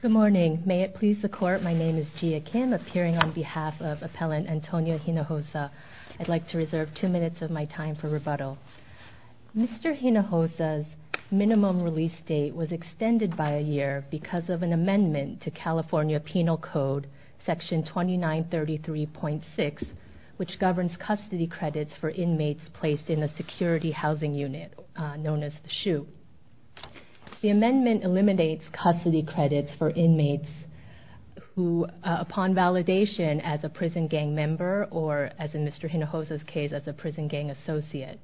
Good morning. May it please the court, my name is Gia Kim, appearing on behalf of Appellant Antonio Hinojosa. I'd like to reserve two minutes of my time for rebuttal. Mr. Hinojosa's minimum release date was extended by a year because of an amendment to California Penal Code, section 2933.6, which governs custody credits for inmates placed in a security housing unit known as the SHU. The amendment eliminates custody credits for inmates who, upon validation as a prison gang member or, as in Mr. Hinojosa's case, as a prison gang associate.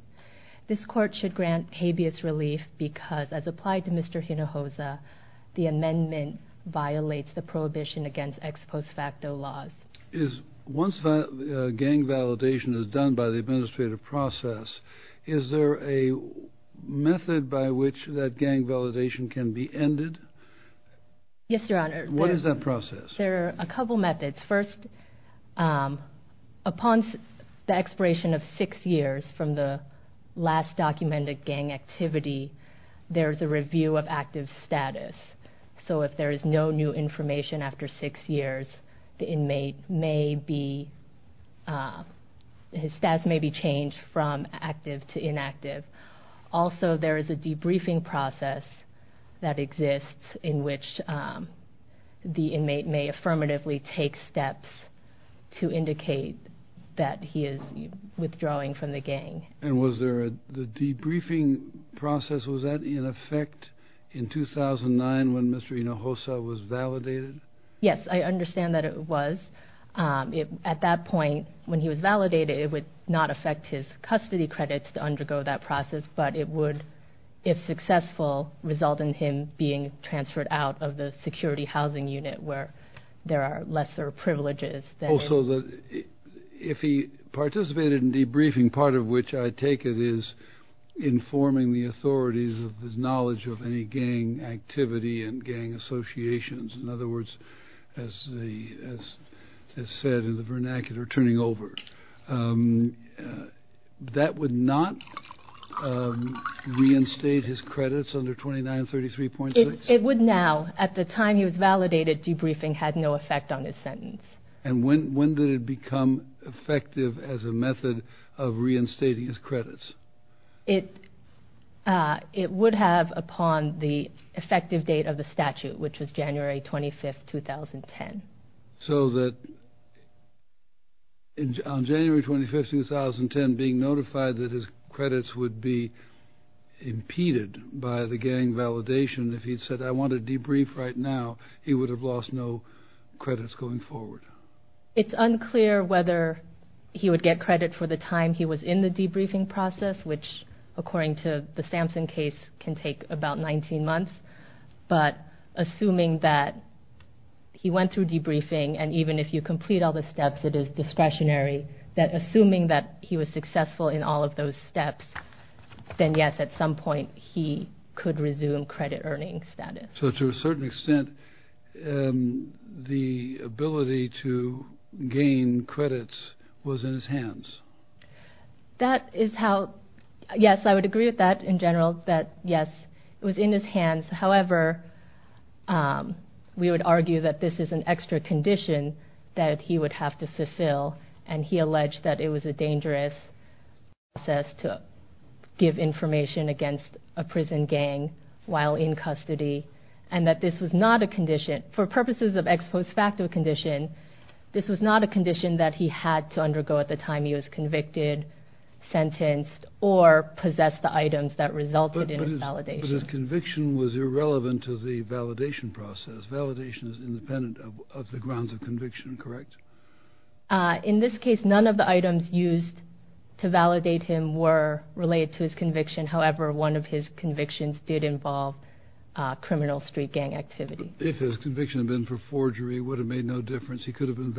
This court should grant habeas relief because, as applied to Mr. Hinojosa, the amendment violates the ex post facto laws. Once gang validation is done by the administrative process, is there a method by which that gang validation can be ended? Yes, Your Honor. What is that process? There are a couple methods. First, upon the expiration of six years from the last documented gang activity, there is a review of active status. So if there is no new information after six years, the inmate may be, his status may be changed from active to inactive. Also, there is a debriefing process that exists in which the inmate may affirmatively take steps to indicate that he is withdrawing from the gang. And was there a, the debriefing process, was that in effect in 2009 when Mr. Hinojosa was validated? Yes, I understand that it was. At that point, when he was validated, it would not affect his custody credits to undergo that process, but it would, if successful, result in him being transferred out of the security housing unit where there are lesser privileges. Also, if he participated in debriefing, part of which I take it is informing the authorities of his knowledge of any gang activity and gang associations. In other words, as the, as said in the vernacular, turning over. That would not reinstate his credits under 2933.6? It would now. At the time he was validated, debriefing had no effect on his sentence. And when, when did it become effective as a method of reinstating his credits? It, it would have upon the effective date of the statute, which was January 25th, 2010. So that on January 25th, 2010, being notified that his credits would be impeded by the gang validation, if he said, I want to debrief right now, he would have lost no credits going forward. It's unclear whether he would get credit for the time he was in the debriefing process, which according to the Samson case can take about 19 months. But assuming that he went through debriefing and even if you complete all the steps, it is discretionary that assuming that he was successful in all of those steps, then yes, at some point he could resume credit earning status. So to a certain extent, the ability to gain credits was in his hands. That is how, yes, I would agree with that in general, that yes, it was in his hands. However, we would argue that this is an extra condition that he would have to fulfill. And he alleged that it was a dangerous process to give information against a prison gang while in custody and that this was not a condition, for purposes of ex post facto condition, this was not a condition that he had to undergo at the time he was convicted, sentenced, or possessed the items that resulted in his validation. But his conviction was irrelevant to the validation process. Validation is independent of the grounds of conviction, correct? In this case, none of the items used to validate him were related to his conviction. However, one of his convictions did involve criminal street gang activity. If his conviction had been for forgery, it would have made no difference. He could have been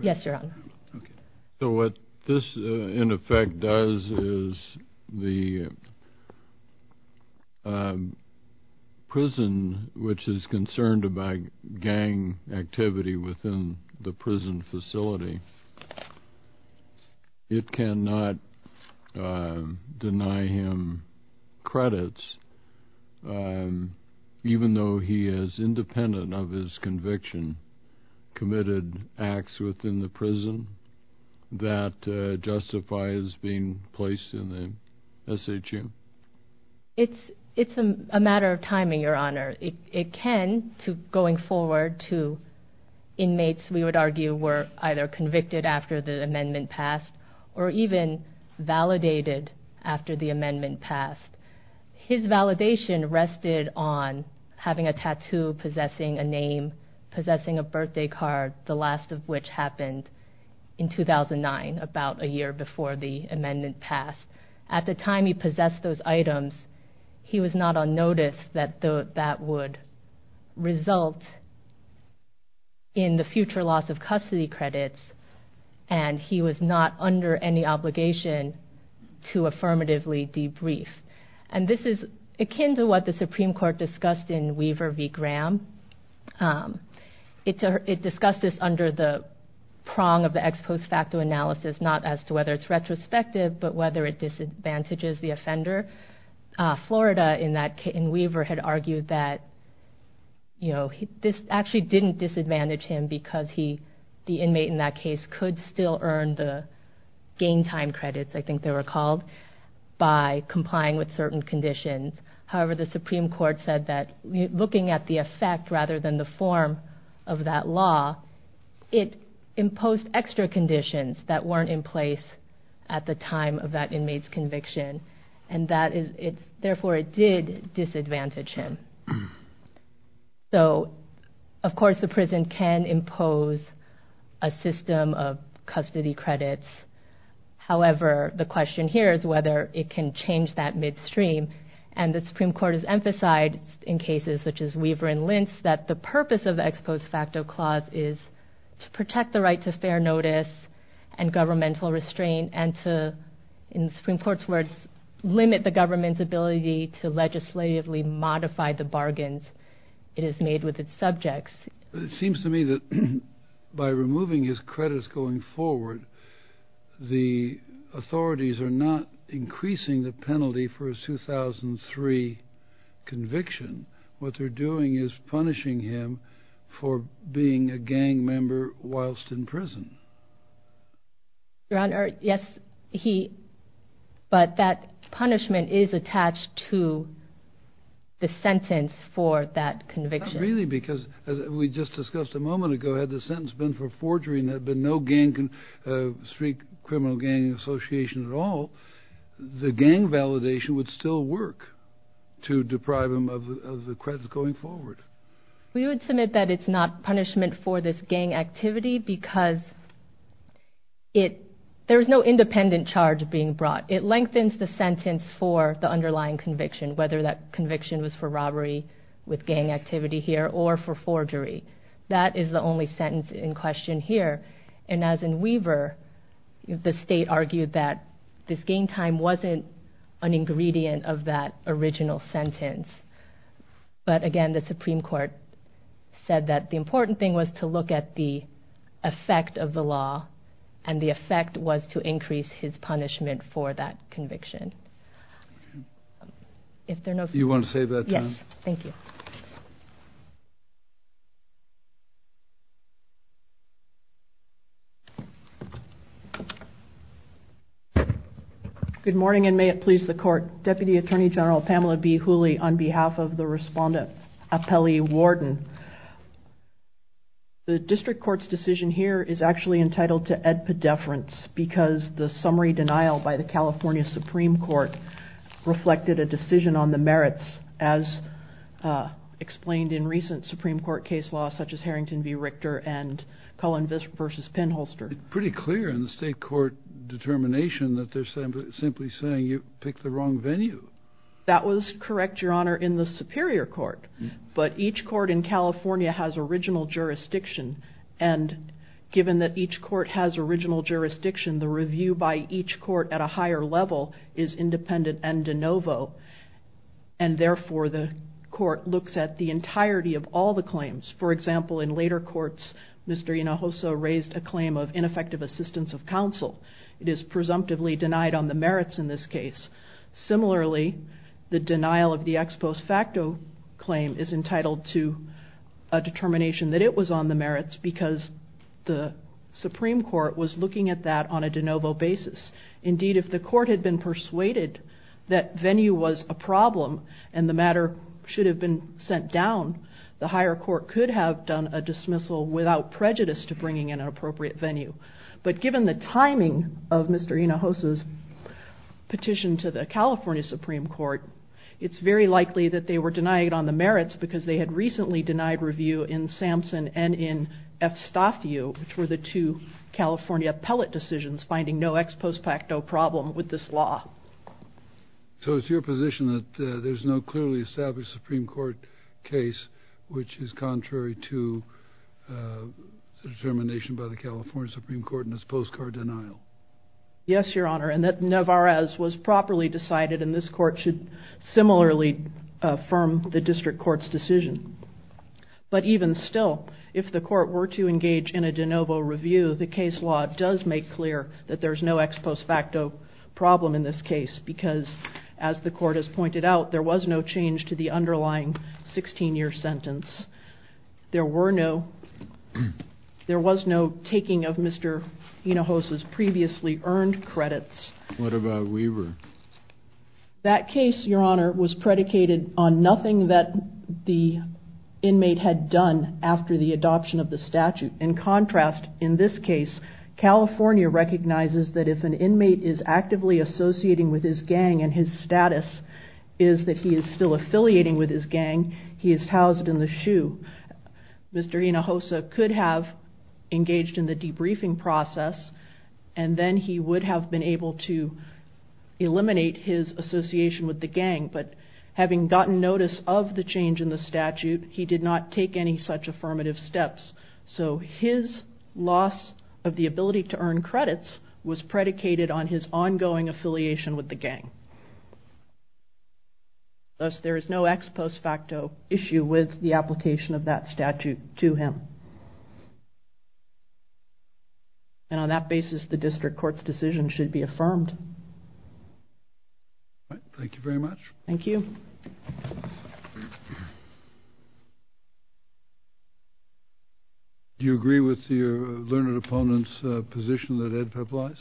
Yes, Your Honor. So what this, in effect, does is the prison, which is concerned about gang activity within the prison facility, it cannot deny him credits, even though he is independent of his conviction, committed acts within the prison that justify his being placed in the SHU? It's a matter of timing, Your Honor. It can, going forward, to inmates, we would argue, were either convicted after the amendment passed, or even validated after the amendment passed. If he was possessing a birthday card, the last of which happened in 2009, about a year before the amendment passed, at the time he possessed those items, he was not on notice that that would result in the future loss of custody credits, and he was not under any obligation to affirmatively debrief. And this is akin to what the Supreme Court discussed in Weaver v. Graham. It discussed this under the prong of the ex post facto analysis, not as to whether it's retrospective, but whether it disadvantages the offender. Florida, in Weaver, had argued that this actually didn't disadvantage him because the inmate in that case could still earn the gain time credits, I think they were called, by complying with certain conditions. However, the Supreme Court said that, looking at the effect rather than the form of that law, it imposed extra conditions that weren't in place at the time of that inmate's conviction, and therefore it did disadvantage him. So, of course, the prison can impose a system of custody credits. However, the question here is whether it can change that midstream, and the Supreme Court has emphasized in cases such as Weaver v. Lentz that the purpose of the ex post facto clause is to protect the right to fair notice and governmental restraint, and to, in the to legislatively modify the bargains it has made with its subjects. It seems to me that by removing his credits going forward, the authorities are not increasing the penalty for his 2003 conviction. What they're doing is punishing him for being a to the sentence for that conviction. Not really, because as we just discussed a moment ago, had the sentence been for forgery and there had been no street criminal gang association at all, the gang validation would still work to deprive him of the credits going forward. We would submit that it's not punishment for this gang activity because there's no independent charge being brought. It lengthens the sentence for the underlying conviction, whether that conviction was for robbery with gang activity here or for forgery. That is the only sentence in question here, and as in Weaver, the state argued that this gain time wasn't an ingredient of that original sentence. But again, the Supreme Court said that the important thing was to look at the effect of the law, and the effect was to increase his punishment for that conviction. If there are no further questions, I will now turn it over to Pamela B. Hooley. Good morning, and may it please the Court. Deputy Attorney General Pamela B. Hooley, on behalf of the Respondent Apelli Warden. The District Court's decision here is actually entitled to ad pedeference because the summary denial by the California Supreme Court reflected a decision on the merits, as explained in recent Supreme Court case law such as Harrington v. Richter and Cullen v. Penholster. Pretty clear in the state court determination that they're simply saying you picked the wrong venue. That was correct, Your Honor, in the Superior Court, but each court in California has original jurisdiction, and given that each court has original jurisdiction, the review by each court at a higher level is independent and de novo, and therefore the court looks at the entirety of all the claims. For example, in later courts, Mr. Hinojosa raised a claim of ineffective assistance of counsel. It is presumptively denied on the merits in this case. Similarly, the denial of the ex post facto claim is entitled to a determination that it was on the merits because the Supreme Court was looking at that on a de novo basis. Indeed, if the court had been persuaded that venue was a problem and the matter should have been sent down, the higher court could have done a dismissal without prejudice to an appropriate venue. But given the timing of Mr. Hinojosa's petition to the California Supreme Court, it's very likely that they were denied on the merits because they had recently denied review in Sampson and in F. Staff U, which were the two California appellate decisions finding no ex post facto problem with this law. So it's your position that there's no clearly established Supreme Court case which is contrary to the determination by the California Supreme Court in this post card denial? Yes, Your Honor, and that Nevarez was properly decided and this court should similarly affirm the district court's decision. But even still, if the court were to engage in a de novo review, the case law does make clear that there's no ex post facto problem in this case because, as the court has pointed out, there was no change to the underlying 16-year sentence. There was no taking of Mr. Hinojosa's previously earned credits. What about Weaver? That case, Your Honor, was predicated on nothing that the inmate had done after the adoption of the statute. In contrast, in this case, California recognizes that if an inmate is and his status is that he is still affiliating with his gang, he is housed in the shoe. Mr. Hinojosa could have engaged in the debriefing process, and then he would have been able to eliminate his association with the gang. But having gotten notice of the change in the statute, he did not take any such affirmative steps. So his loss of the ability to earn credits. Thus, there is no ex post facto issue with the application of that statute to him. And on that basis, the district court's decision should be affirmed. All right. Thank you very much. Thank you. Do you agree with your learned opponent's position that Ed Pepp lies?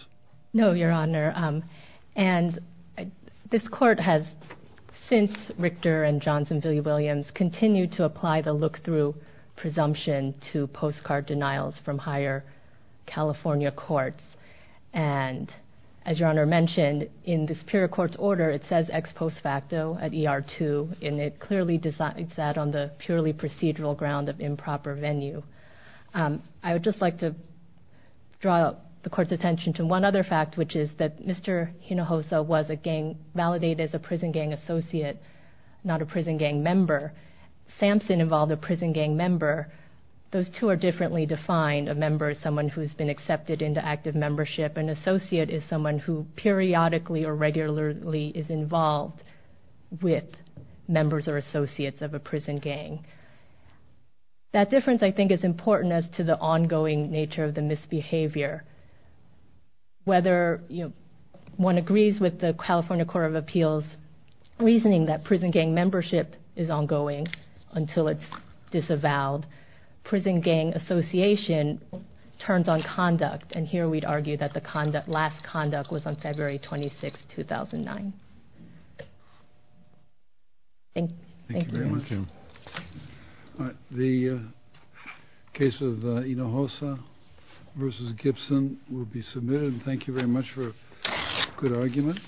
No, Your Honor. And this court has, since Richter and Johnson v. Williams, continued to apply the look-through presumption to postcard denials from higher California courts. And as Your Honor mentioned, in the superior court's order, it says ex post facto at ER2, and it clearly does that on the purely procedural ground of improper venue. I would just like to draw the court's attention to one other fact, which is that Mr. Hinojosa was a gang validated as a prison gang associate, not a prison gang member. Sampson involved a prison gang member. Those two are differently defined. A member is someone who has been accepted into active membership. An associate is someone who periodically or regularly is involved with members or associates of a prison gang. That difference, I think, is important as to the ongoing nature of the misbehavior. Whether one agrees with the California Court of Appeals' reasoning that prison gang membership is ongoing until it's disavowed, prison gang association turns on conduct. And here we'd argue that the last conduct was on February 26, 2009. Thank you. Thank you very much. Thank you. All right. The case of Hinojosa v. Gibson will be submitted. Thank you very much for a good argument.